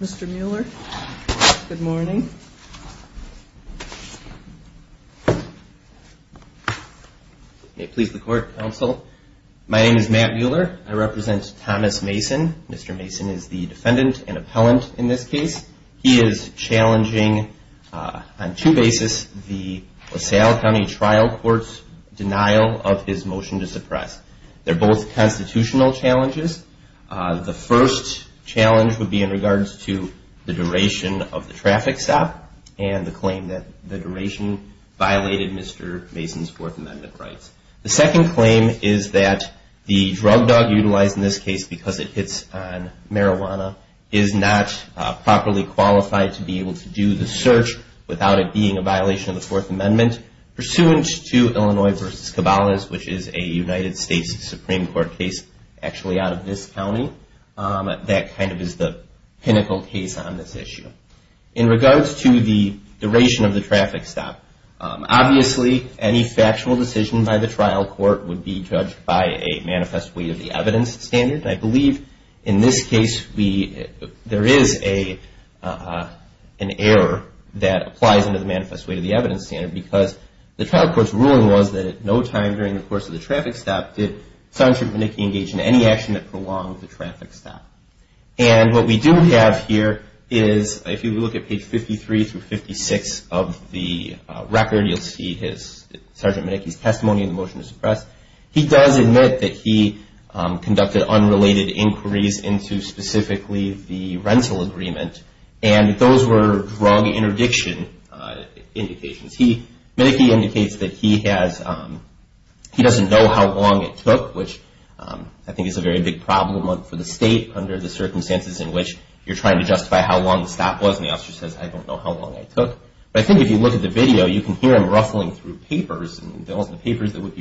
Mr. Mueller. Good morni court counsel. My name i this case. He is challeng the sal county trial cour challenges. The first cha of the traffic stop and t duration violated Mr Mason in this case because it h properly qualified to be without it being a violat pursuant to Illinois vers is a United States Suprem out of this county. Um Th case on this issue. In re of the traffic stop. Obvi decision by the trial cou by a manifest way of the I believe in this case we that applies into the man evidence standard because was that at no time durin traffic stop. Did Sergeant any action that prolonged And what we do have here page 53 through 56 of the his sergeant Mickey's tes to suppress. He does admi unrelated inquiries into agreement. And those were indications. He indicates know how long it took, wh very big problem for the in which you're trying to stop was and the officer how long I took. But I th video, you can hear him r the papers that would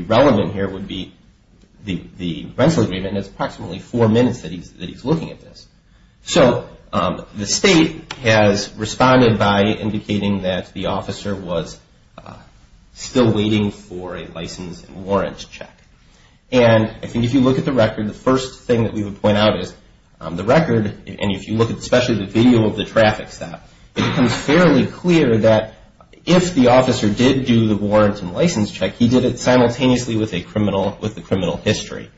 be be the the rental agreeme four minutes that he's, t this. So the state has re that the officer was uh s license and warrants chec you look at the record, t we would point out is the you look at especially th stop, it becomes fairly c if the officer did do the check, he did it simultan with the criminal history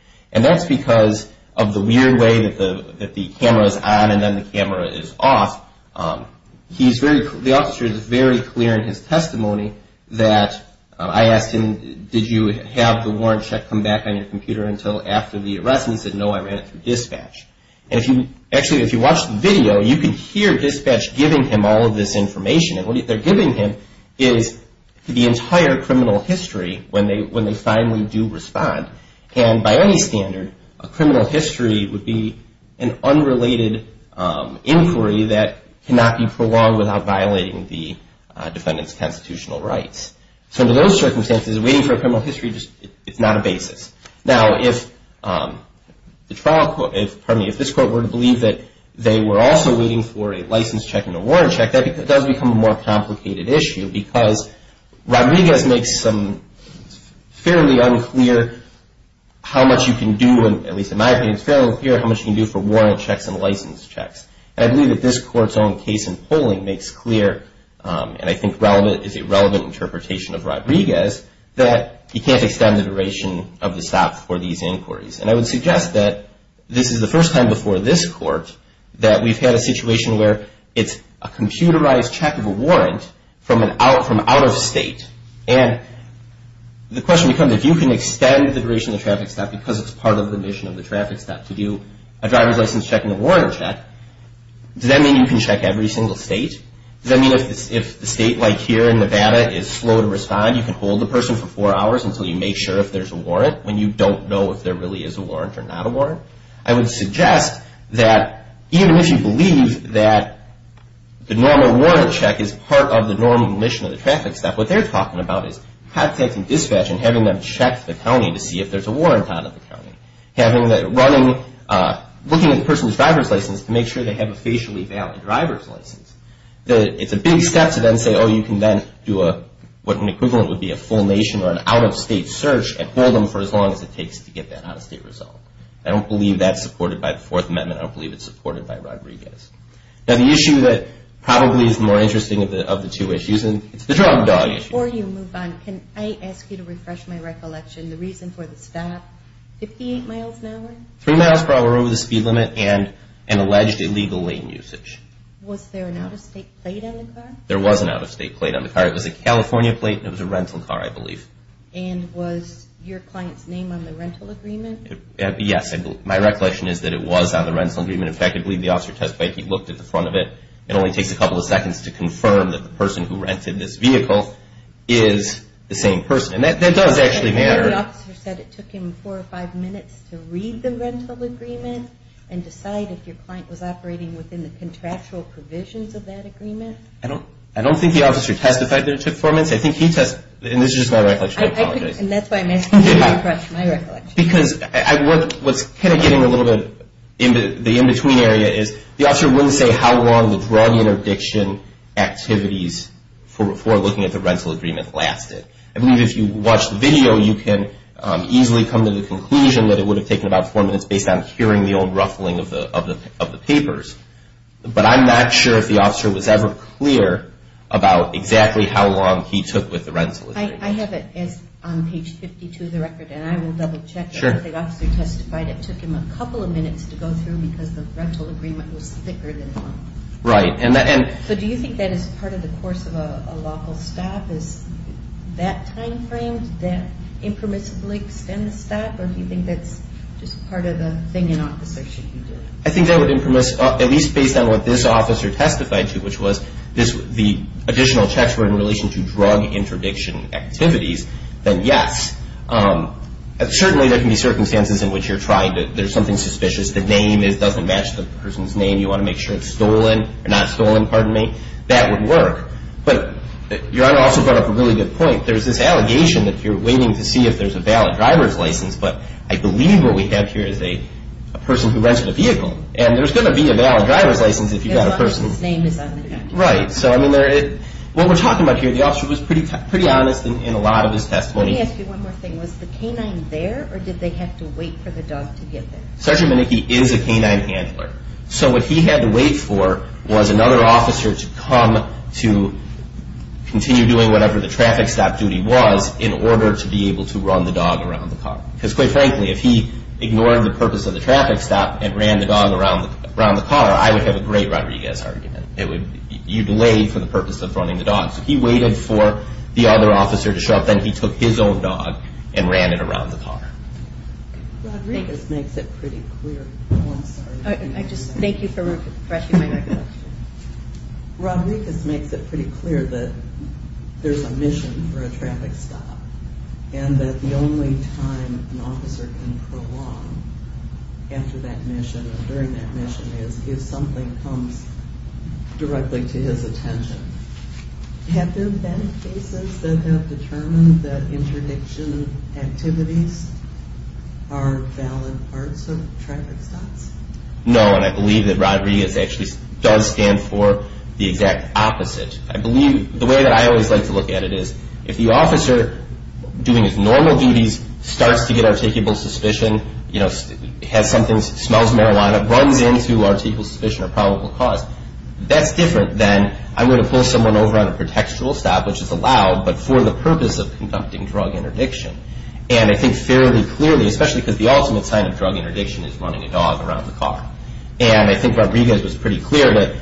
of the weird way that the and then the camera is of is very clear in his testi him, did you have the war on your computer until af said no, I ran it through if you watch the video, y giving him all of this in they're giving him is the history when they, when t And by any standard, a cr be an unrelated inquiry t without violating the def rights. So under those c waiting for a criminal hi a basis. Now, if um the t this court were to believ waiting for a license chec does become a more compli Rodriguez makes some fair you can do, at least in m how much you can do for w checks. And I believe tha case in polling makes cle is a relevant interpretat you can't extend the dura these inquiries. And I wo is the first time before court that we've had a si a computerized check of a out of state. And the que can extend the duration o it's part of the mission to do a driver's license check. Does that mean you single state? Does that m like here in Nevada is sl can hold the person for f make sure if there's a wa know if there really is a I would suggest that eve that the normal warrant c mission of the traffic st about is contacting dispa the county to see if ther of the county, having tha a person's driver's licen have a facially valid dri a big step to then say, o an equivalent would be a out of state search and b as it takes to get that o I don't believe that's su I don't believe it's supp Now, the issue that proba of the of the two issues issue or you move on. Can my recollection? The reaso 58 miles an hour, three m the speed limit and an al usage. Was there an out o car? There was an out of car. It was a California car, I believe. And was y agreement? Yes, my recoll on the rental agreement. the officer testified he of it. It only takes a co to confirm that the perso vehicle is the same perso actually matter. The offi four or five minutes to r agreement and decide if y within the contractual pr agreement. I don't, I don testified that it took fo test. And this is my recl and that's why I'm asking because I was kind of get the in between area is th say how long the drug int for looking at the rental I believe if you watch th come to the conclusion th about four minutes based ruffling of the of the pa sure if the officer was e exactly how long he took I have it as on page 52 o will double check. Sure. It took him a couple of m because the rental agreeme than right. And so do you of the course of a local framed that impermissibli or do you think that's ju an officer? Should you do impermiss at least based this officer testified to checks were in relation t activities, then yes. Um circumstances in which yo something suspicious. The the person's name. You wa stolen, not stolen. Pardon But your honor also brought point. There's this allega to see if there's a valid But I believe what we have who rented a vehicle and t license. If you've got a on the right. So I mean t about here, the officer w in a lot of his testimony thing was the canine ther to wait for the dog to ge is a canine handler. So w was another officer to co whatever the traffic stop to be able to run the dog quite frankly, if he igno the traffic stop and ran around the car, I would h argument. It would you de of running the dogs. He w to show up. Then he took it around the car. Rodrig clear. I'm sorry. I just my recollection. Rodrigu clear that there's a miss and that the only time an prolonged after that miss mission is if something c attention. Have there bee determined that interdict valid parts of traffic sto that Rodriguez actually d opposite. I believe the w to look at it is if the o duties starts to get arti you know, has something s into articles, sufficient That's different than I w over on a protectual stop but for the purpose of co And I think fairly clearl ultimate sign of drug int a dog around the car. And was pretty clear that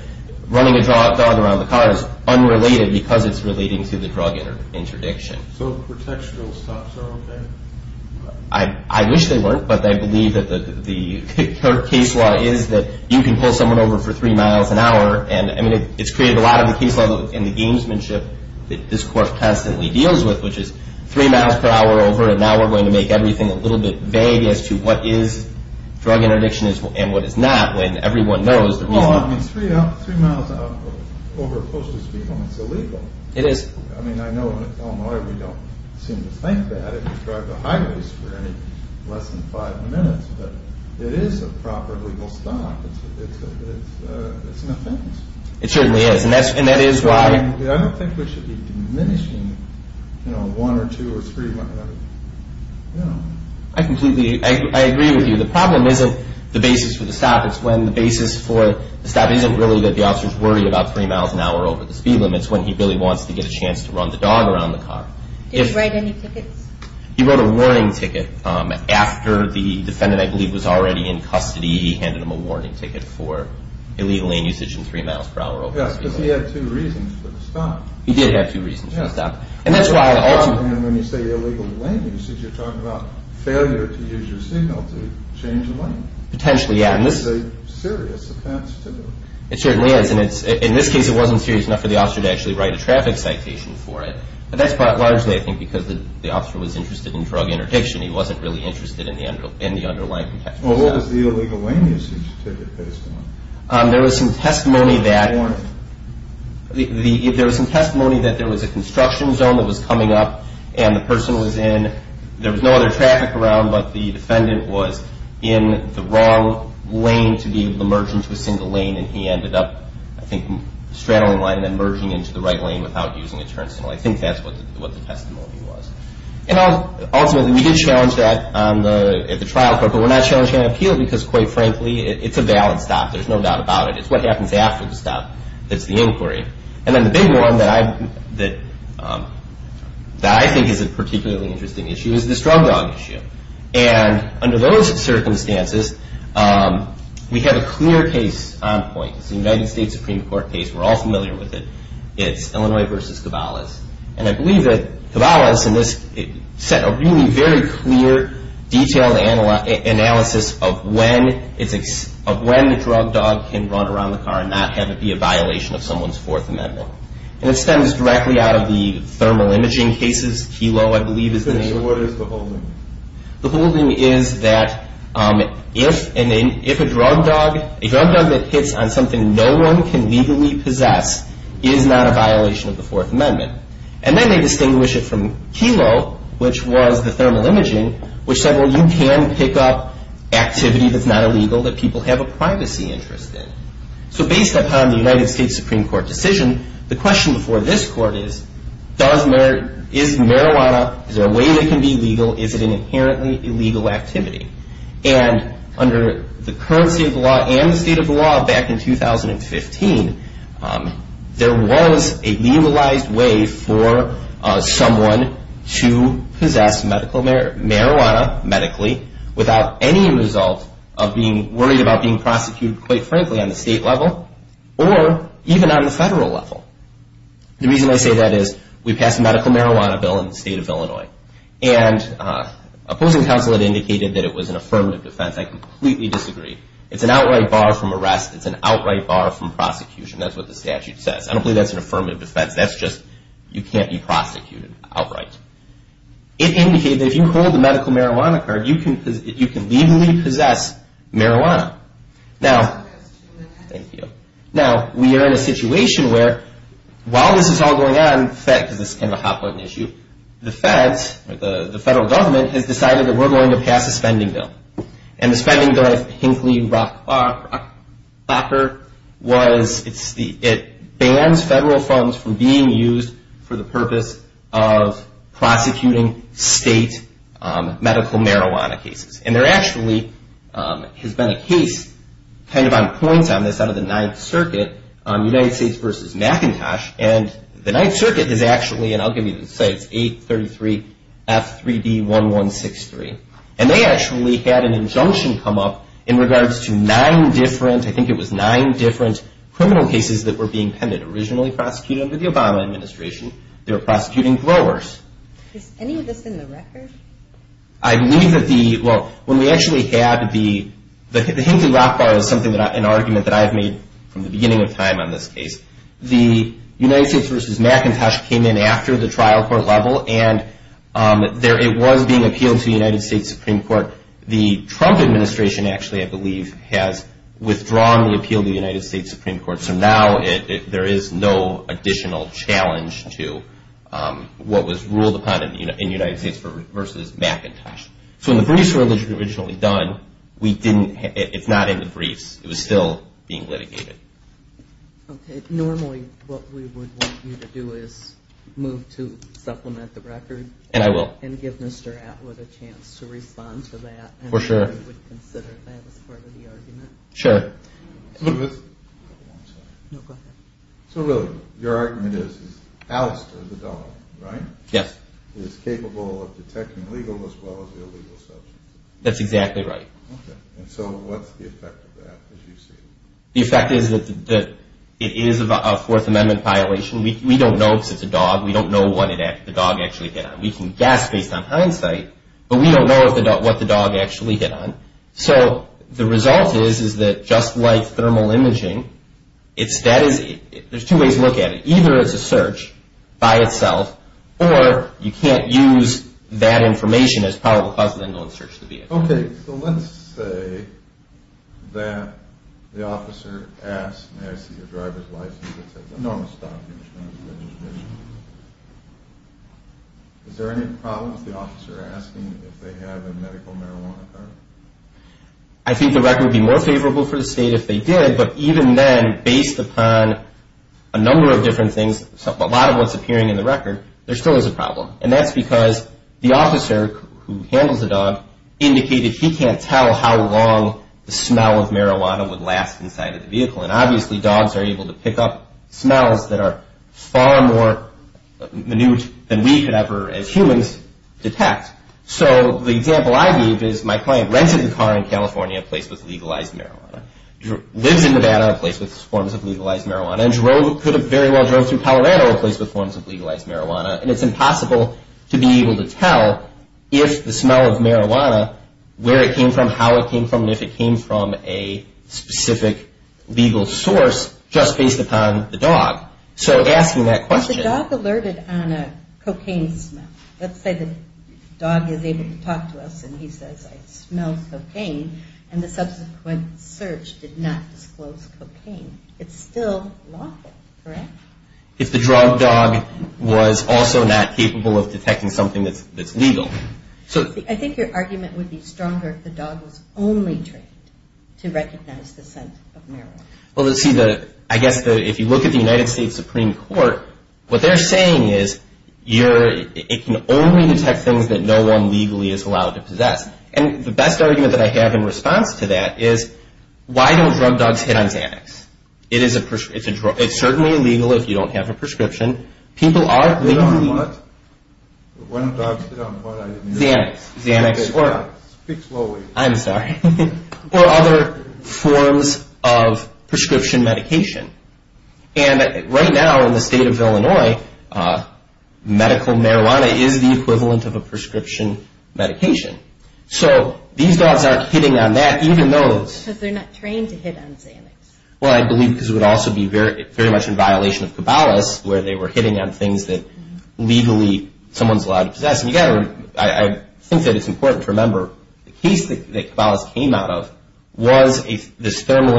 run the car is unrelated beca the drug interdiction. S are okay. I wish they wer that the case law is that over for three miles an h created a lot of the case ship. This course constan is three miles per hour o to make everything a litt is drug interdiction is a when everyone knows the r three miles over close to It is. I mean, I know we think that if you drive t than five minutes, but it stop. It's a it's a it's is. And that's and that i we should be diminishing or three. Yeah, I complete you. The problem isn't th when the basis for the st that the officers worried hour over the speed limit to get a chance to run th If right, any tickets, he Um, after the defendant, in custody, handed him a illegally in usage in thre Yes, because he had two r He did have two reasons f why I also when you say i you're talking about fail gives you a signal to cha Yeah. And this is a seriou is. And it's in this case enough for the officer to citation for it. But that because the officer was i interdiction. He wasn't r in the end, in the underl the illegal lane usage ti was some testimony that t some testimony that there zone that was coming up a was no other traffic aroun was in the wrong lane to a single lane and he ende line and then merging int without using a turn signal the testimony was. And ul that on the trial court, an appeal because quite f stop. There's no doubt ab happens after the stop. T then the big one that I t interesting issue is this And under those circumstan case on point, the United court case, we're all fam Illinois versus Cabela's. Cabela's in this set a re analysis of when it's of can run around the car an of someone's fourth amend out of the thermal imagin is the name of what is th is that if and if a drug hits on something no one is not a violation of the then they distinguish it the thermal imaging, whic pick up activity that's n have a privacy interest i United States Supreme Cou the question before this is marijuana, is there a Is it an inherently ille under the currency of the of the law back in 2015, way for someone to posses medically without any res about being prosecuted qu level or even on the fede I say that is we pass med in the state of Illinois it indicated that it was I completely disagree. It from arrest. It's an outr That's what the statute s that's an affirmative def can't be prosecuted outr if you hold the medical m can legally possess marij Now we are in a situatio all going on, because it' issue, the feds, the fede that we're going to pass the spending bill. Hinkl it's the it bans federal for the purpose of prosec state medical marijuana actually has been a case on this out of the Ninth States versus McIntosh. A is actually and I'll give F 3 d 1163 and they actua come up in regards to nin it was nine different cri pending originally prosec administration. They're p growers. Is any of this i that the well when we act the Hinkley rock bar is s that I've made from the b case. The United States v in after the trial court was being appealed to the Court. The trump administ believe has withdrawn the State Supreme Court. So n additional challenge to u upon in the United States So when the briefs were o we didn't, it's not in th being litigated. Okay. No want you to do is move to and I will give Mr Atwood to that. For sure. Consid argument is Alistair, the capable of detecting lega illegal substance. That's So what's the effect of t is that it is a Fourth Am We don't know if it's a d what it is. The dog actuall based on hindsight, but w the dog actually hit on. is that just like thermal two ways to look at it. E by itself or you can't us as probable cause of the vehicle. Okay. So let's s asked, I see a driver's l stop. Is there any proble asking if they have a medi I think the record would the state if they did. Bu upon a number of differen of what's appearing in th is a problem. And that's who handles the dog indic how long the smell of mar inside of the vehicle. An able to pick up smells th than we could ever as hum example I gave is my clie with legalized marijuana a place with forms of leg drove could have very wel a place with forms of leg it's impossible to be abl smell of marijuana where it came from. If it came source just based upon th question, the dog alerted say the dog is able to tal I smell cocaine and the s did not disclose cocaine. correct? If the drug dog of detecting something th I think your argument wou dog was only trained to r of marijuana. Well, let's you look at the United Sta they're saying is you're things that no one legall And the best argument tha to that is why don't drug It is a, it's a, it's cer you don't have a prescrip what? One of the Xanax, Z I'm sorry. Or other forms And right now in the stat medical marijuana is the prescription medication. hitting on that, even tho trained to hit on Xanax. it would also be very, ve of cabalas where they wer that legally someone's al gotta, I think that it's the case that came out of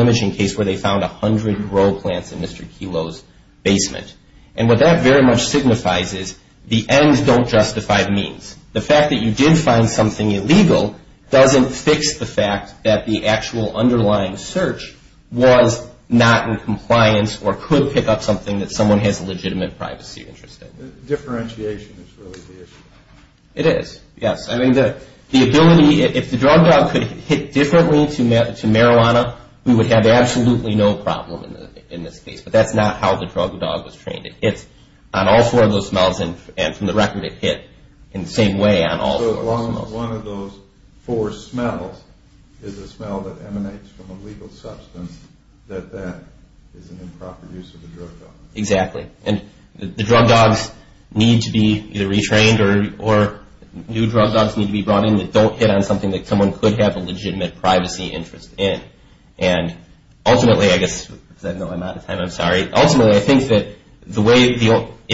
imaging case where they f in Mr Kelo's basement. An signifies is the ends don The fact that you did fin doesn't fix the fact that search was not in complia pick up something that so privacy interested. Diffe the issue. It is. Yes. I if the drug dog could hit to marijuana, we would ha in this case. But that's dog was trained. It's on and from the record it hi on all one of those four that emanates from a lega an improper use of the dr drug dogs need to be eith drug dogs need to be broug on something that someone a legitimate privacy inte I guess I know I'm out of I think that the way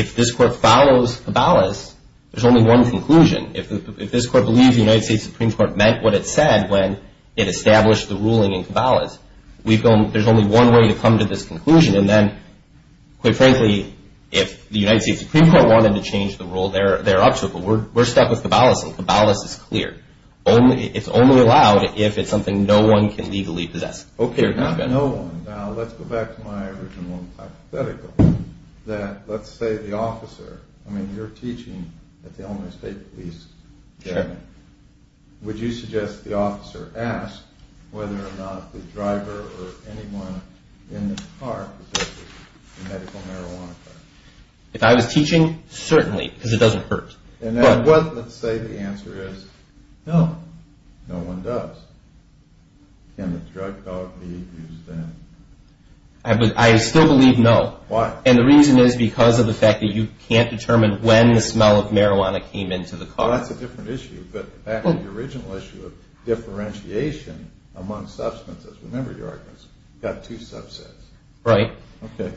if t cabalas, there's only one this court believes the U Court meant what it said the ruling in cabalas. We one way to come to this c frankly, if the United Sta to change the rule, they'r step with cabalas and caba it's only allowed if it's can legally possess. Okay let's go back to my origi let's say the officer, I at the only state police the officer asked whether or anyone in the car. If because it doesn't hurt a answer is no, no one does be used then? But I still the reason is because of determine when the smell into the car. That's a di back to the original issu among substances. Remember two subsets, right? Okay.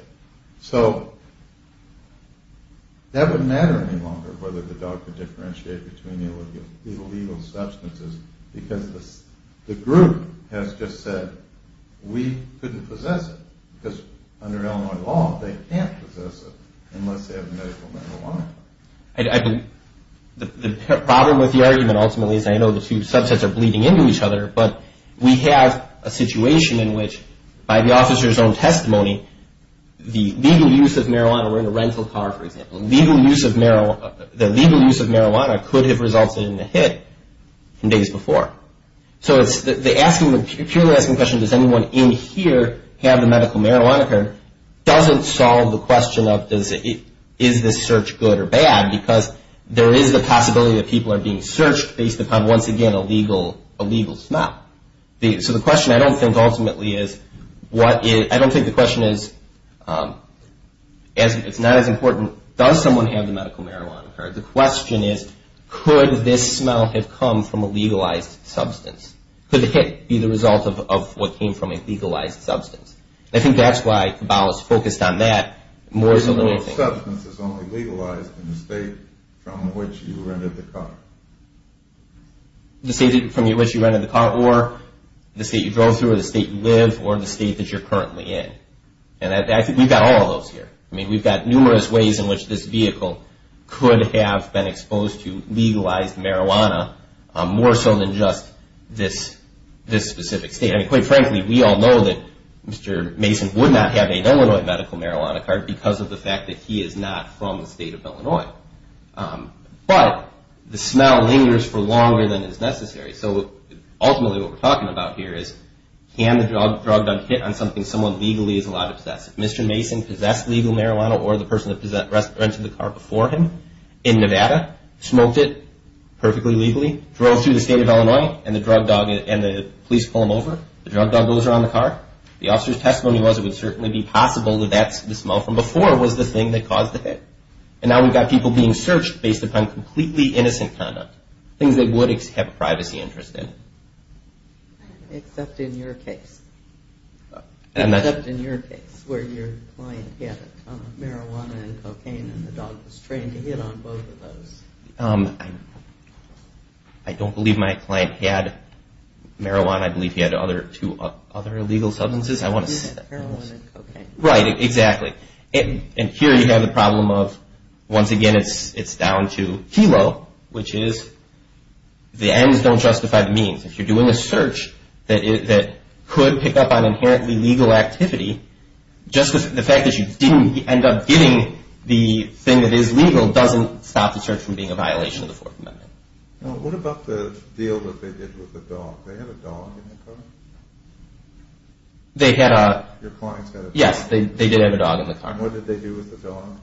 longer whether the dog co between illegal illegal s the group has just said w because under Illinois la unless they have medical the problem with the argu I know the two subsets ar each other, but we have a the officer's own testimo of marijuana were in a re legal use of marijuana, t marijuana could have resu days before. So it's the question, does anyone in marijuana occurred doesn' of does it is this search is the possibility that p based upon once again, il So the question I don't t what I don't think the qu as it's not as important. have the medical marijuana is, could this smell have substance? Could it be th from a legalized substanc why the ball is focused o only legalized in the sta the car, the state from y the car or the state you you live or the state tha in. And I think we've got I mean, we've got numerou vehicle could have been e marijuana more so than ju state. I mean, quite frank Mr Mason would not have a marijuana card because of is not from the state of lingers for longer than i what we're talking about can the drug drug hit on legally is a lot of obses legal marijuana or the pe the car before him in Nev legally drove through the and the drug dog and the The drug dog goes around testimony was, it would c that's the smell from befo that caused the hit. And being searched based upon conduct, things that would in. Except in your case, case where your client ha and the dog was trained t Um, I don't believe my cl I believe he had other, t substances. I want to se And here you have the pro again, it's, it's down to don't justify the means. a search that could pick activity. Just the fact t up getting the thing that stop the search from bein Fourth Amendment. What ab they did with the dog? Th car? They had, uh, your c did have a dog in the car they do with the film?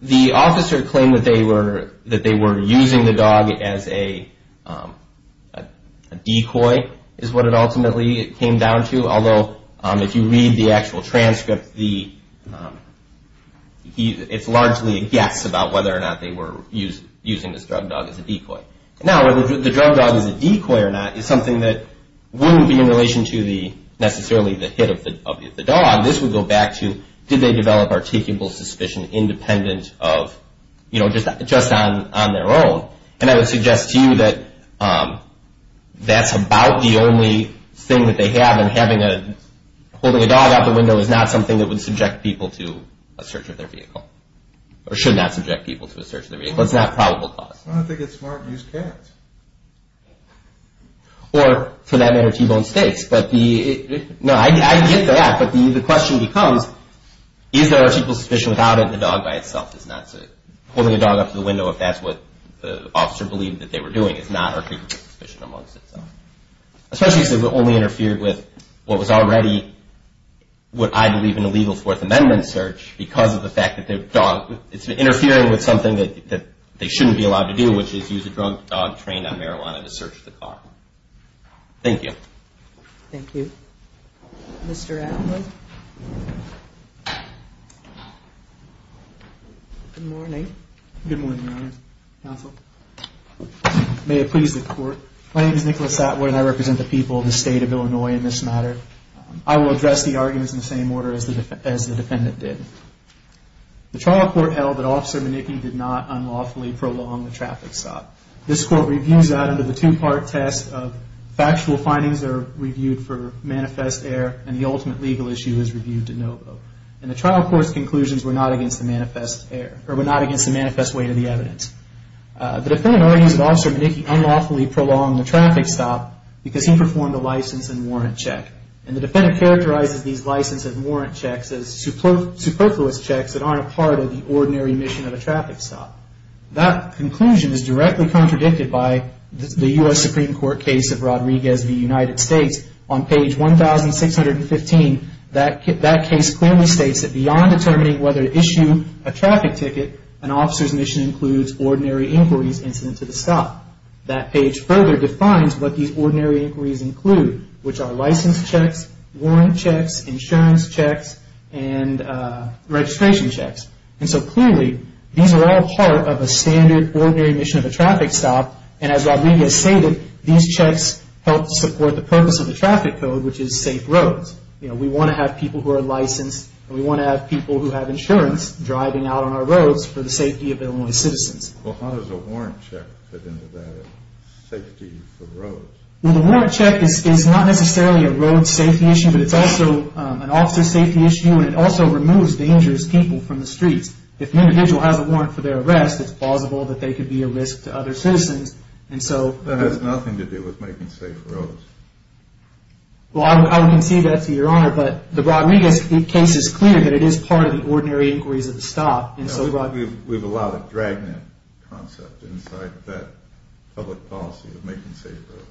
Th that they were, that they as a, um, a decoy is what came down to. Although, u transcript, the, um, it's about whether or not they drug dog is a decoy. Now, is a decoy or not, is som be in relation to the, ne of the dog. This would go develop articulable suspi of, you know, just just o I would suggest to you th the only thing that they a dog out the window is n would subject people to a vehicle or should not sub the vehicle. It's not pro it's smart to use cats or stakes. But the, no, I ge the question becomes, is without it? The dog by it a dog up to the window. I believed that they were d suspicion amongst itself. only interfered with what I believe in a legal Four because of the fact that interfering with somethi be allowed to do, which i trained on marijuana to s are. Thank you. Thank you Good morning. Good mornin it please the court. My n and I represent the peopl in this matter. I will ad in the same order as the d did. The trial court held did not unlawfully prolon This court reviews that u of factual findings are r air and the ultimate lega to no vote. And the trial were not against the mani not against the manifest The defendant argues that unlawfully prolong the tr he performed a license an the defendant characteriz warrant checks as superflu aren't part of the ordin of a traffic stop. That c contradicted by the U. S. of Rodriguez v United Sta that that case clearly st whether to issue a traffi mission includes ordinari to the stop. That page fu these ordinary inquiries checks, warrant checks, i checks and registration c these are all part of a s of a traffic stop. And as these checks help support traffic code, which is sa want to have people who a want to have people who h out on our roads for the citizens. Well, how does that safety for roads? We is not necessarily a road but it's also an officer also removes dangerous pe If an individual has a wa it's plausible that they to other citizens. And so to do with making safe ro that to your honor. But t clear that it is part of of the stop. And so we've concept inside that publi safe roads.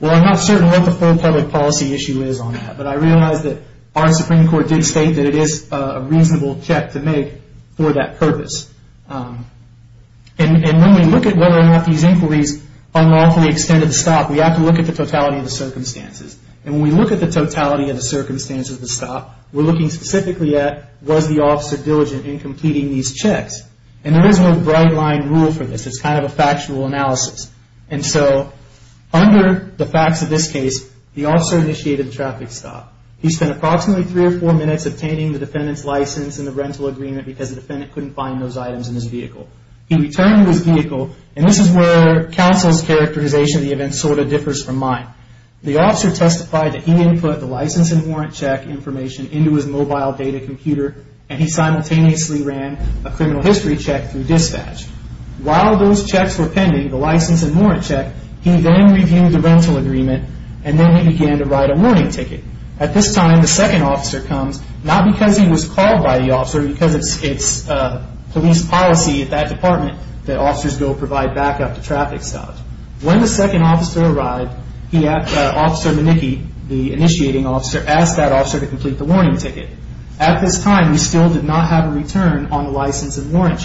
Well, I'm not public policy issue is on that our Supreme Court di a reasonable check to mak Um, and when we look at w inquiries unlawfully exte have to look at the total And when we look at the t of the stop, we're looki was the officer diligent checks. And there is no b this. It's kind of a fact And so under the facts of initiated traffic stop. H three or four minutes obt license and the rental ag defendant couldn't find t vehicle. He returned his is where counsel's charac event sort of differs fro that he input the license information into his mobi he simultaneously ran a c through dispatch. While t the license and warrant c the rental agreement and write a warning ticket. A officer comes not because the officer because it's that department that offi up the traffic stop. When arrived, he had officer M officer asked that officer ticket. At this time we s on the license and warran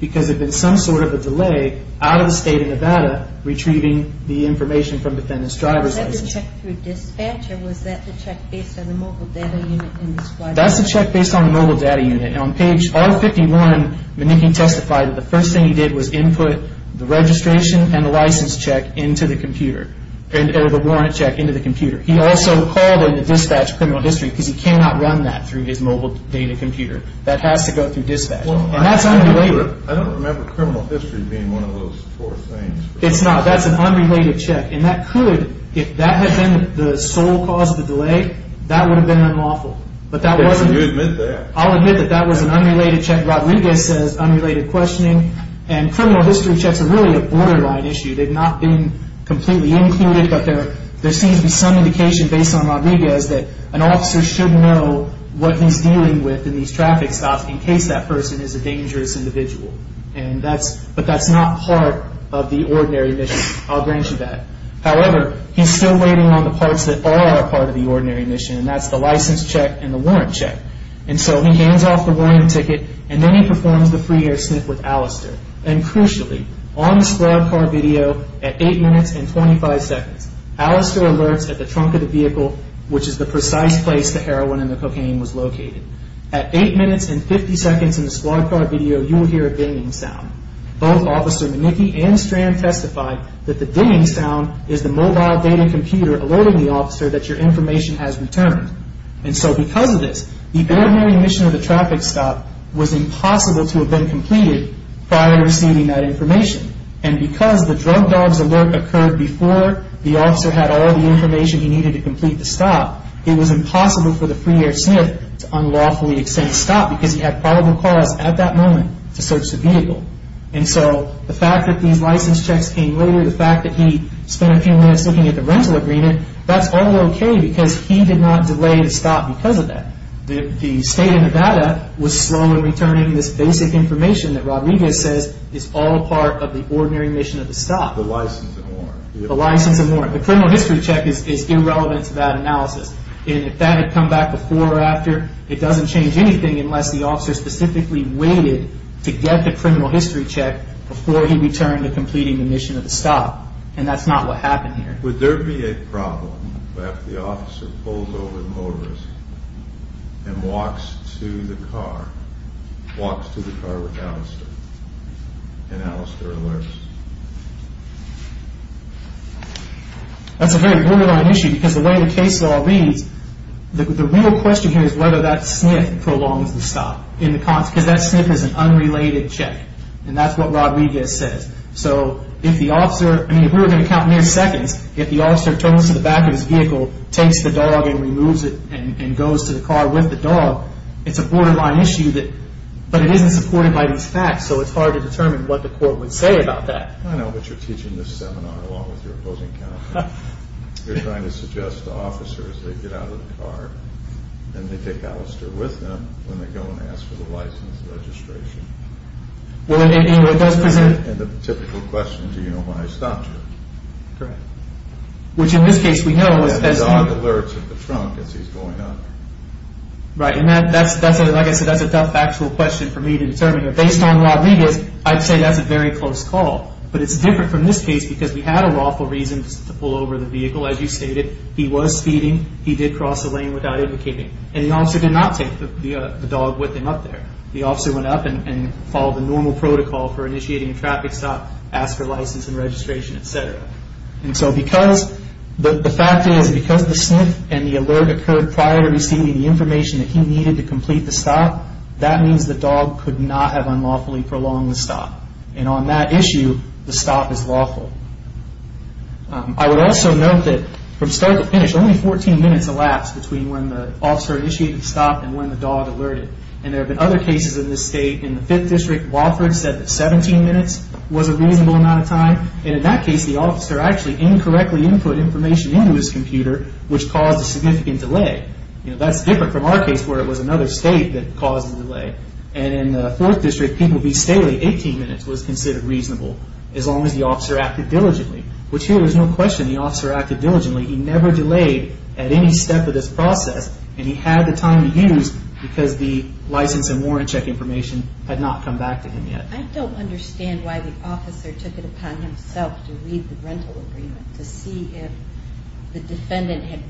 because it's been some so of the state of Nevada, r from defendants drivers t or was that the check bas unit? That's the check ba unit on page R 51. And th the first thing he did wa and the license check int the warrant check into th called in the dispatch cri he cannot run that through computer that has to go t unrelated. I don't rememb being one of those four t an unrelated check. And t had been the sole cause o have been unlawful. But t that that was an unrelated unrelated questioning. An checks are really a borde not been completely includ seems to be some indicatio should know what he's dea stops in case that person And that's but that's not mission. I'll grant you t still waiting on the parts of the ordinary mission. check and the warrant chec off the warrant ticket and the free air sniff with Al on the squad car video at seconds. Alistair alerts of the vehicle, which is to heroin and the cocaine minutes and 50 seconds in you will hear a banging s Manicki and strand testif sound is the mobile data the officer that your inf And so because of this, t of the traffic stop was i been completed prior to r And because the drug dogs before the officer had al he needed to complete the for the free air sniff to stop because he had proba moment to search the vehi fact that these license c fact that he spent a few rental agreement, that's he did not delay the stop state of Nevada was slowe information that Rodriguez is all part of the ordin stop, the license, the li The criminal history chec of that analysis. And if before or after, it doesn unless the officer specif the criminal history chec to completing the mission that's not what happened a problem after the offic walks to the car, walks t Alistair and Alistair ale really an issue because t reads the real question h sniff prolongs the stop i that sniff is an unrelat what Rodriguez says. So i if we were going to count the officer turns to the takes the dog and removes the dog, it's a borderli isn't supported by these to determine what the cou that. I know what you're along with your opposing to suggest the officers t car and they take Alistai they go and ask for the l Well, it does present th Do you know why I stopped this case, we know that a as he's going up. Right. like I said, that's a tou for me to determine that I'd say that's a very clo different from this case lawful reasons to pull ov you stated, he was feedin lane without indicating a take the dog with him up up and follow the normal in traffic stop, ask for etcetera. And so because the fact is because the s occurred prior to receiv that he needed to complet means the dog could not h the stop. And on that iss lawful. I would also note to finish only 14 minutes when the officer initiated the dog alerted. And the in this state in the fift said that 17 minutes was of time. And in that case input information into h caused a significant dela from our case where it wa that caused the delay. A people be stately. 18 min reasonable. As long as th diligently, which here wa officer acted diligently. at any step of this proces time to use because the l check information had not yet. I don't understand w took it upon himself to r to see if the defendant h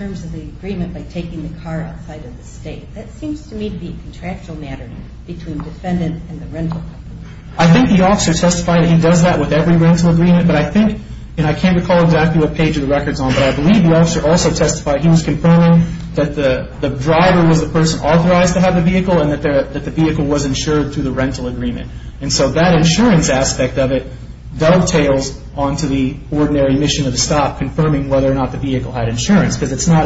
of the agreement by takin of the state. That seems matter between defendant I think the officer testi with every rental agreeme I can't recall exactly wh on. But I believe the off he was confirming that th person authorized to have that the vehicle was insu agreement. And so that i it dovetails onto the ori stop confirming whether o insurance because it's no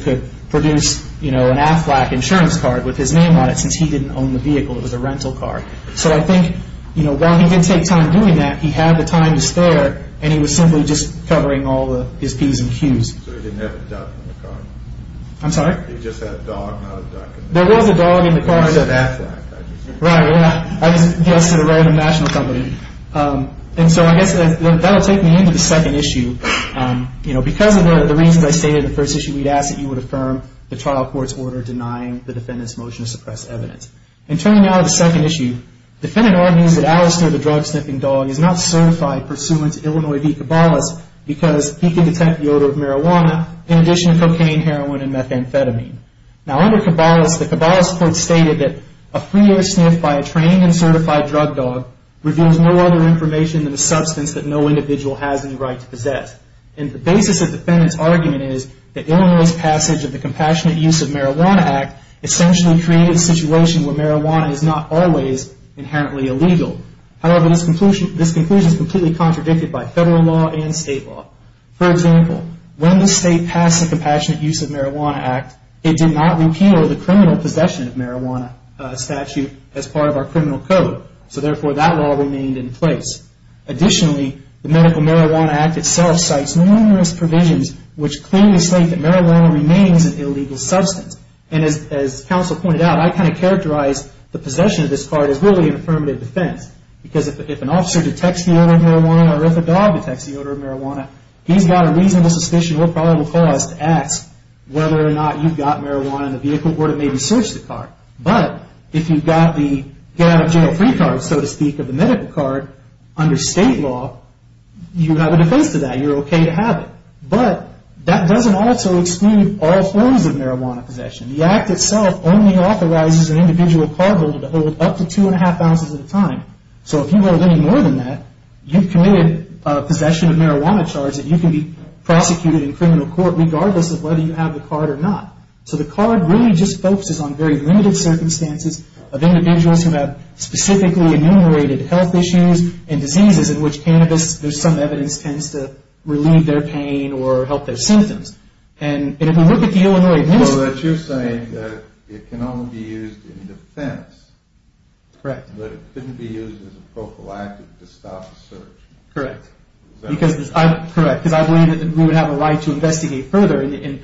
could produce an Aflac ins name on it since he didn' It was a rental car. So I he didn't take time doing time to spare and he was all his P's and Q's. I'm you just had a dog, not a dog in the car. That's ri a random national company that will take me into th because of the reason I s we'd ask that you would a order denying the defenda evidence. And turning out defendant argues that Al dog is not certified purs cabalas because he can de marijuana. In addition to and methamphetamine. Now the cabalas court stated by a trained and certified no other information than no individual has any rig basis of defendants argume passage of the Compassion Act essentially created s is not always inherently conclusion. This conclusi by federal law and state l the compassionate use of did not repeal the crimina statute as part of our cr that law remained in plac Medical Marijuana Act itse provisions which clearly remains an illegal substa pointed out, I kind of ca of this card is really an because if an officer det or if a dog detects the o he's got a reasonable sus cause to ask whether or n in the vehicle or to mayb But if you've got the get card, so to speak of the state law, you have a def okay to have it. But that all forms of marijuana po only authorizes an individ up to 2.5 ounces at a tim any more than that, you'v possession of marijuana c prosecuted in criminal co whether you have the card really just focuses on ve of individuals who have s health issues and disease there's some evidence tend pain or help their sympto at the Illinois, you're s be used in defense, corre be used as a prophylactic Correct. Because I'm corr that we would have a righ further and it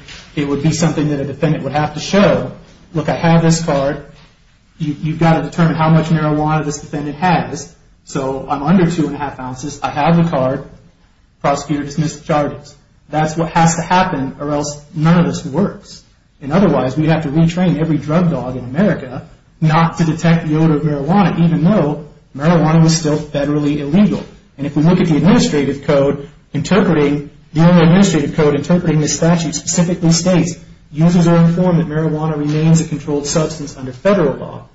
would be s would have to show, look, you've got to determine h this defendant has. So I' ounces. I have the card p charges. That's what has none of this works. And o retrain every drug dog in the odor of marijuana, ev was still federally illeg the administrative code i administrative code, inter specifically states, use remains a controlled subst law.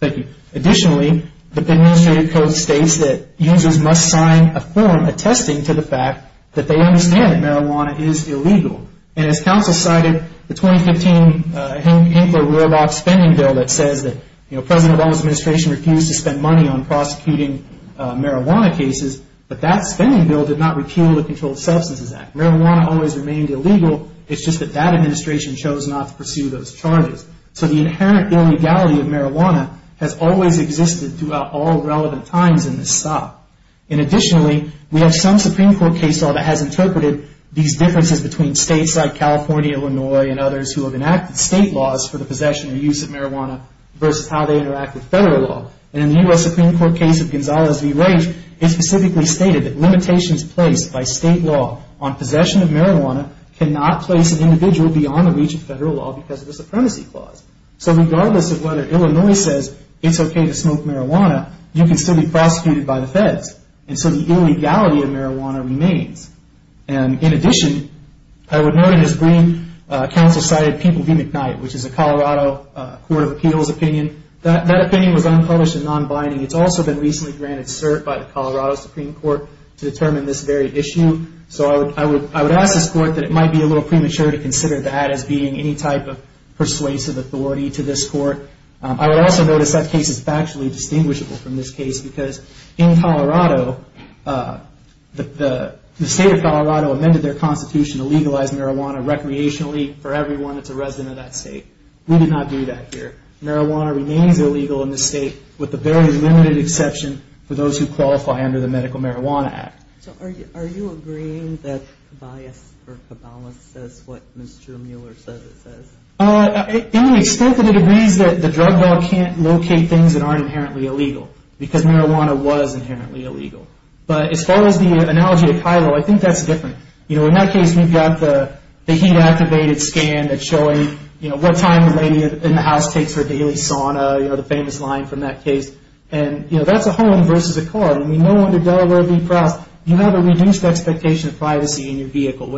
Thank you. Additiona code states that users mu to the fact that they und is illegal. And as counc 2015, uh, Hank, Hank, a r that says that, you know, refused to spend money on cases. But that spending the Controlled Substances remained illegal. It's ju chose not to pursue those illegality of marijuana h throughout all relevant t Additionally, we have som that has interpreted thes California, Illinois and state laws for the posses versus how they interact And in the U. S. Supreme V. Rage is specifically s placed by state law on po cannot place an individua of federal law because of So regardless of whether okay to smoke marijuana, by the feds. And so the i remains. And in addition, his green council cited p is a Colorado Court of Ap opinion was unpublished a also been recently grante Supreme Court to determine So I would, I would, I wo that it might be a little that as being any type of to this court. I would als factually distinguishable this case because in Colo of colorado amended their marijuana recreationally a resident of that state. here. Marijuana remains i with the very limited exc qualify under the medical are you, are you agreeing says what Mr Mueller says it agrees that the drug d that aren't inherently il was inherently illegal. B to Kylo, I think that's d in that case, we've got t scan that showing, you kn in the house takes her da the famous line from that that's a home versus a ca to Delaware v. Cross, you expectation of privacy in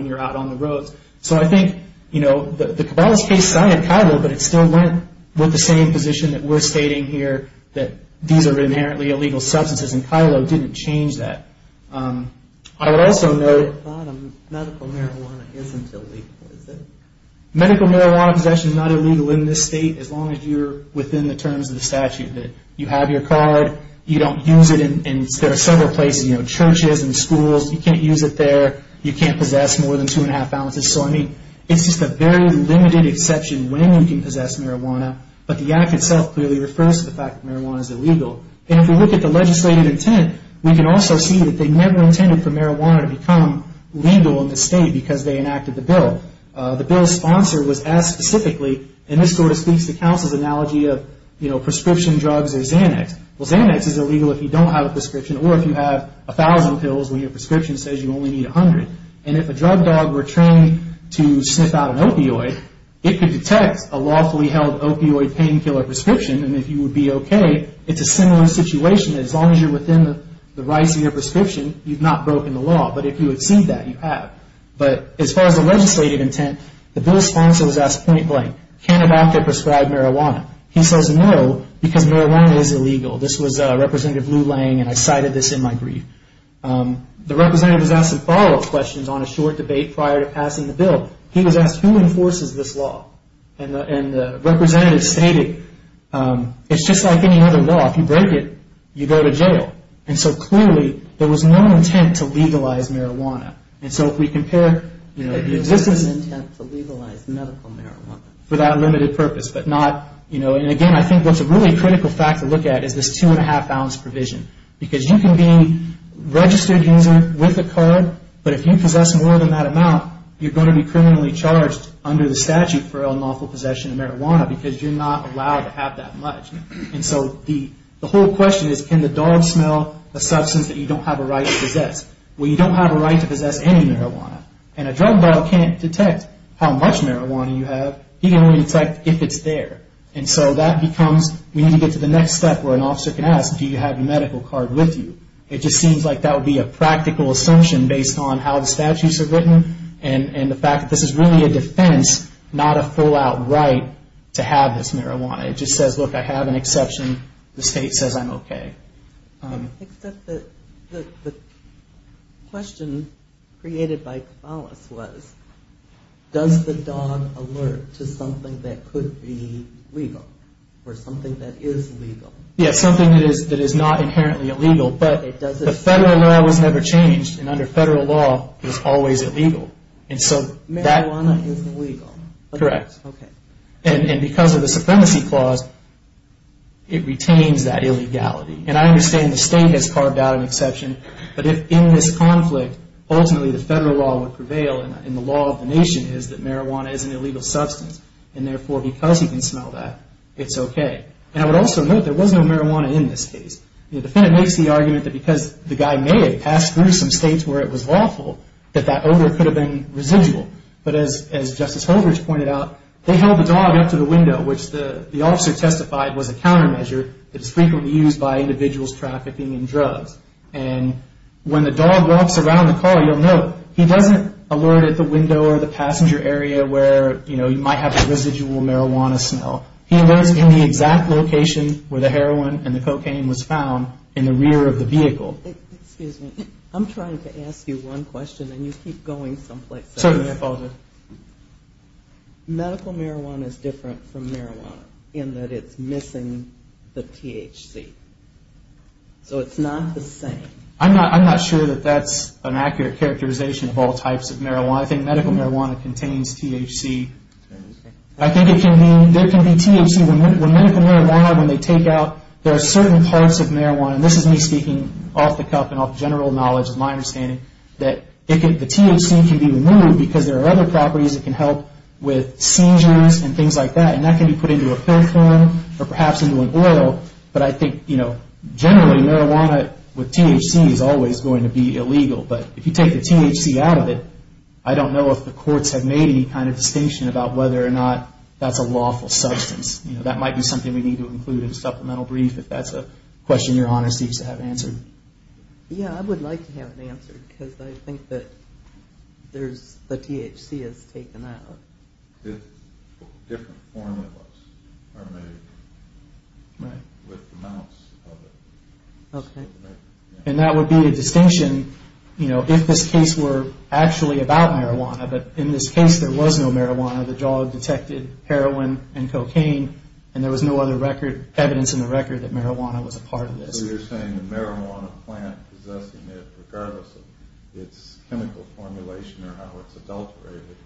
you're out on the roads. the cabal's case, I had C with the same position th here that these are inher and Kylo didn't change th know medical marijuana is marijuana possession is n state. As long as you're the statute that you have don't use it. And there a churches and schools, you You can't possess more th So I mean, it's just a ve when you can possess mari itself clearly refers to illegal. And if we look a intent, we can also see t for marijuana to become l because they enacted the was as specifically and t the council's analogy of, drugs or Xanax. Well, Xana you don't have a prescrip 1000 pills when your pres only need 100. And if a d to sniff out an opioid, i held opioid painkiller pr would be okay, it's a sim as long as you're within you've not broken the law that you have. But as far intent, the bill sponsor cannot after prescribed m because marijuana is ille blue laying and I cited t The representative has as a short debate prior to p was asked who enforces th stated, um, it's just lik you break it, you go to j there was no intent to le And so if we compare, you intent to legalize medical purpose, but not, you kno think what's a really cri is this 2.5 ounce provisio being registered user wit you possess more than tha to be criminally charged for unlawful possession o you're not allowed to hav the whole question is, ca a substance that you don' Well, you don't have a ri marijuana and a drug bottle marijuana you have, you c there. And so that become next step where an officer medical card with you? It like that would be a pract on how the statutes are w fact that this is really full out right to have th just says, look, I have a says I'm okay. Um, except by phallus was does the d that could be legal for s Yeah, something that is n illegal, but the federal and under federal law is so that one is legal, cor of the supremacy clause, And I understand the stat an exception. But if in t the federal law would prev the nation is that mariju And therefore, because he it's okay. And I would al no marijuana in this case the argument that becaus through some states where that odor could have been as as Justice Holdridge p the dog up to the window, testified was a counterme used by individuals traff when the dog walks around he doesn't alert at the w area where you know, you marijuana smell. He was i where the heroin and the the rear of the vehicle. to ask you one question a someplace. So medical mar from marijuana in that. I So it's not the same. I'm that's an accurate charac of marijuana. I think med contains THC. I think it THC when medical marijua there are certain parts o is me speaking off the cu knowledge of my understan can be removed because th that can help with seizur that and that can be put perhaps into an oil. But marijuana with THC is alw But if you take the THC o if the courts have made a about whether or not that You know, that might be s include in a supplemental a question. Your honor se Yeah, I would like to hav I think that there's the if different form of us a amounts of it. Okay. And distinction. You know, if about marijuana, but in no marijuana, the job det and there was no other re in the record that mariju this. So you're saying th possessing it regardless or how it's adulterated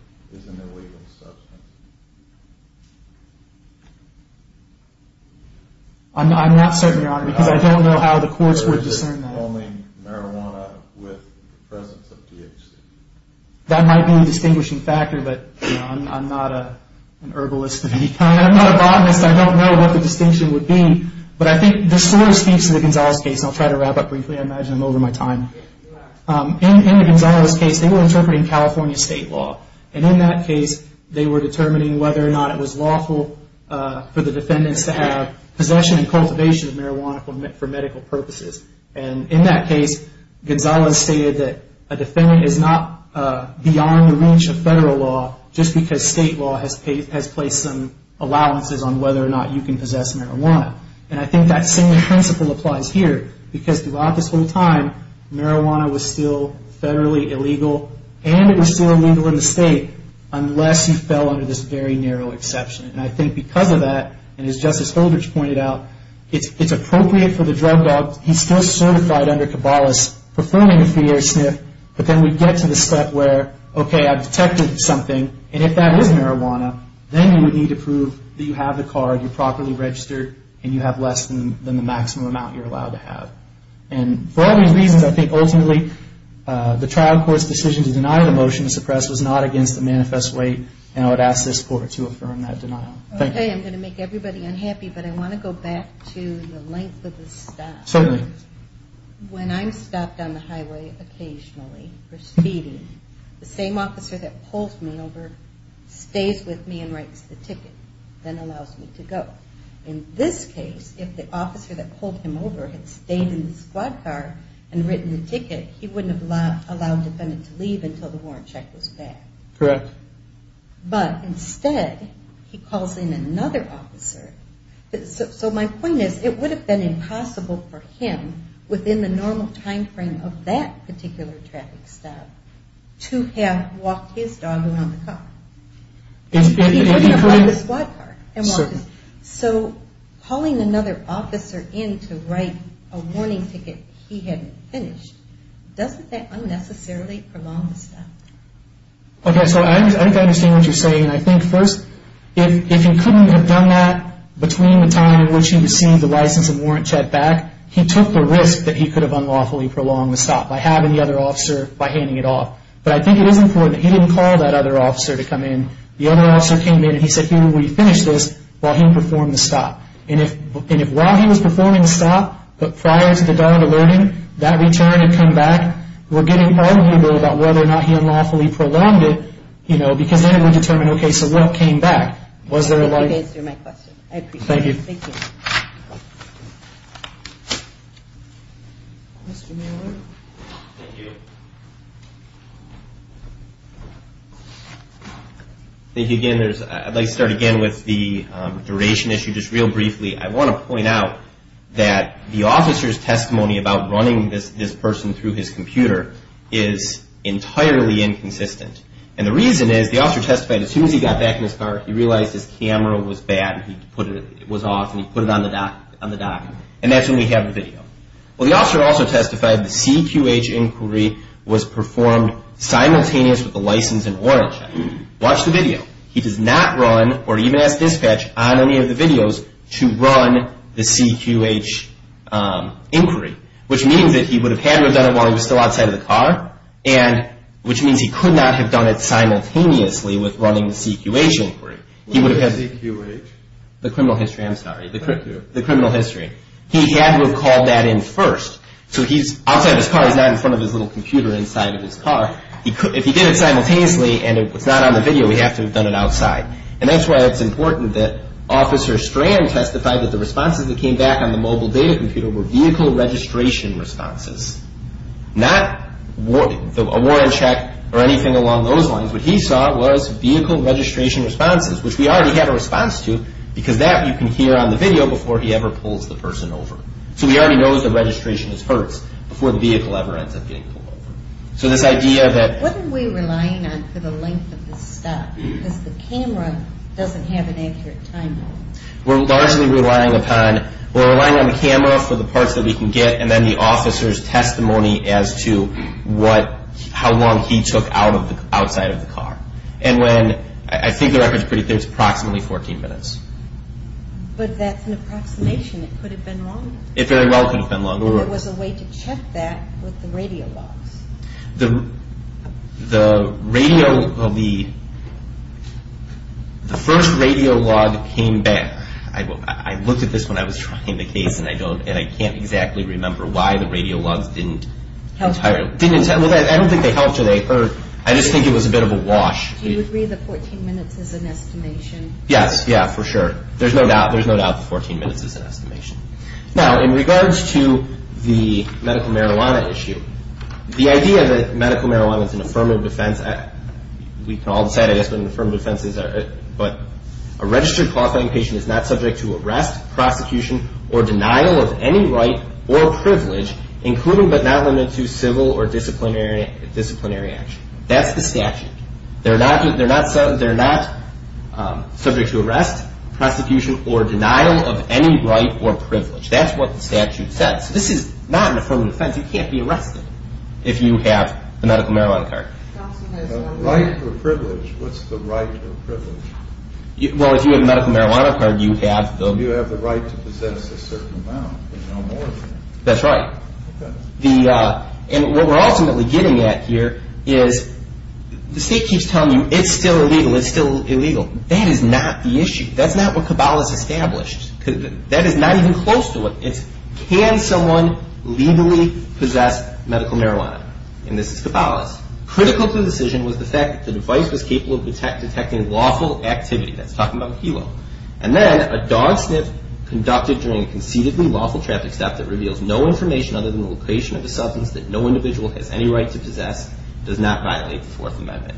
i I'm not certain your hono how the courts would discern marijuana with the presen be a distinguishing facto herbalist. I'm not a bott the distinction would be. speaks to the Gonzalez ca up briefly. I imagine I'm Gonzalez case, they were state law. And in that ca whether or not it was law to have possession and cu medical purposes. And in stated that a defendant i the reach of federal law. law has has placed some a or not you can possess ma that same principle applie throughout this whole time federally illegal and it the state unless you fell exception. And I think be justice holders pointed o for the drug dog. He's st cabalas performing a fear we get to the step where o something. And if that is you would need to prove t you properly registered an than the maximum amount y And for all these reasons uh, the trial court's dec motion to suppress was no weight. And I would ask t that denial. Okay, I'm go unhappy, but I want to go of the staff. Certainly wh the highway occasionally officer that pulls me ove writes the ticket, then a this case, if the officer over had stayed in the squ the ticket, he wouldn't h to leave until the warran that was bad. Correct. Bu another officer. So my po have been impossible for timeframe of that particu to have walked his dog ar wouldn't apply the squad c another officer in to wri he hadn't finished. Does' unnecessarily prolong st what you're saying. And I he couldn't have done tha in which he received the check back, he took the r unlawfully prolong the sto officer by handing it off is important. He didn't c to come in. The other off said, here we finish this the stop. And if, and if the stop, but prior to th return and come back, we' whether or not he unlawful know, because then we dete came back? Was there anyth I appreciate. Thank you. I'd like to start again w issue. Just real briefly. out that the officer's te this person through his c inconsistent. And the rea as soon as he got back in his camera was bad. He pu he put it on the dock on we have a video. Well, th The CQH inquiry was perfo with the license and oran He does not run or even a videos to run the CQH inq he would have had to have still outside of the car. he could not have done it running the CQH inquiry. CQH, the criminal histor history. He had to have c So he's outside of his ca of his little computer ins could, if he did it simult not on the video, we have And that's why it's impor testified that the respon on the mobile data comput responses, not a warrant along those lines. What h registration responses, w a response to because tha video before he ever pull So we already know the re before the vehicle ever e So this idea that what ar on for the length of the camera doesn't have an ac largely relying upon or r for the parts that we can testimony as to what, how of the outside of the car record is pretty, there's minutes. But that's an ap have been wrong. It very longer. There was a way t radio logs, the radio, th came back. I looked at th the case and I don't and why the radio logs didn't I don't think they helped think it was a bit of a w the 14 minutes as an esti for sure. There's no doub 14 minutes is an estimati medical marijuana issue. marijuana is an affirmative all decided it's been an a but a registered cause fi to arrest, prosecution or or privilege, including b or disciplinary disciplin statute. They're not, the not subject to arrest, pr of any right or privilege the statute says. This is offense. You can't be arre medical marijuana card. R the right of privilege? W marijuana card, you have right to possess a certai right. The uh, and what w at here is the state keep still illegal. It's still the issue. That's not wha is not even close to it. possess medical marijuana critical to the decision device was capable of det activity. That's talking a dog sniff conducted dur lawful traffic stop that other than the location o no individual has any righ not violate the Fourth Am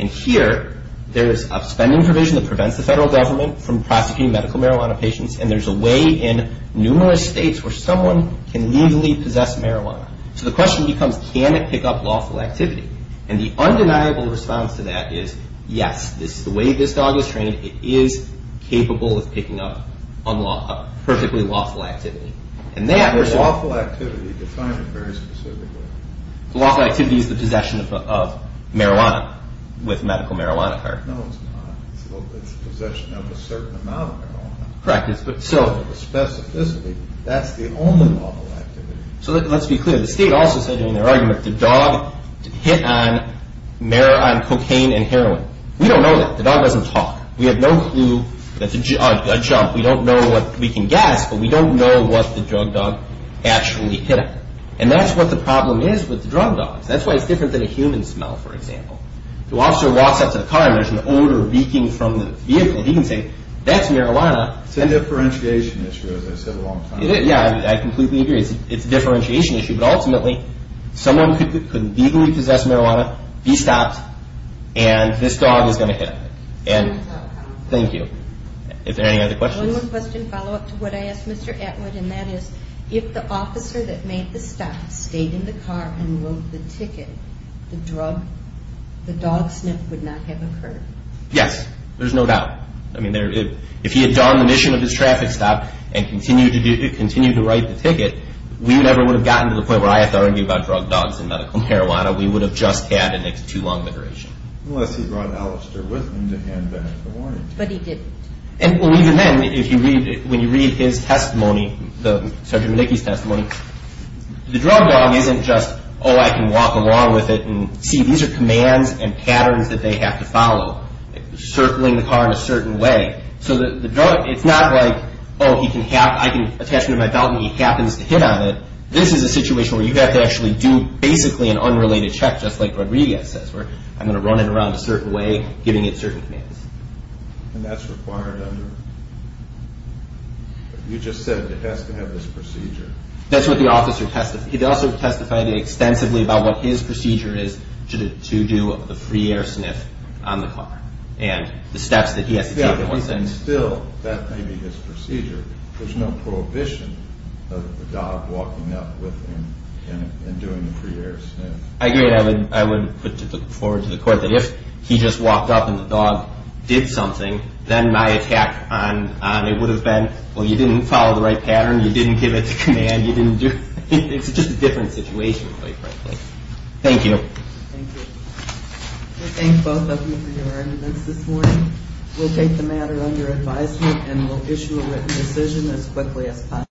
upspending provision that government from prosecuti and there's a way in nume can legally possess marij becomes, can it pick up l the undeniable response t the way this dog is train picking up on law, perfec and that there's lawful a very specific lawful acti of marijuana with medical card. No, it's not. It's of a certain amount of ma specificity. That's the o let's be clear. The state argument. The dog hit on and heroin. We don't know talk. We have no clue tha don't know what we can gu know what the drug dog ac that's what the problem i That's why it's different smell. For example, the o to the car and there's an the vehicle. He can say t differentiation issue. As Yeah, I completely agree. issue. But ultimately som possess marijuana, be sto going to hit. And thank y other questions? One ques I asked Mr Atwood and that that made the stop, staye ticket, the drug, the dog occurred. Yes, there's no he had done the mission o and continue to continue t we never would have gotte I have to argue about dru marijuana. We would have too long the duration. Un with him to hand back the And even then, if you rea testimony, the surgeon, M testimony, the drug dog i can walk along with it an and patterns that they ha the car in a certain way. like, oh, he can have, I belt. He happens to hit o where you have to actuall an unrelated check, just where I'm gonna run it ar giving it certain commands under. You just said it h procedure. That's what th He also testified extensi procedure is to do the fr car and the steps that he still, that may be his pr prohibition of the dog wa doing the pre air. I agree forward to the court that up and the dog did someth on, it would have been, w the right pattern. You di You didn't do. It's just quite frankly. Thank you. of you for your arguments take the matter under adv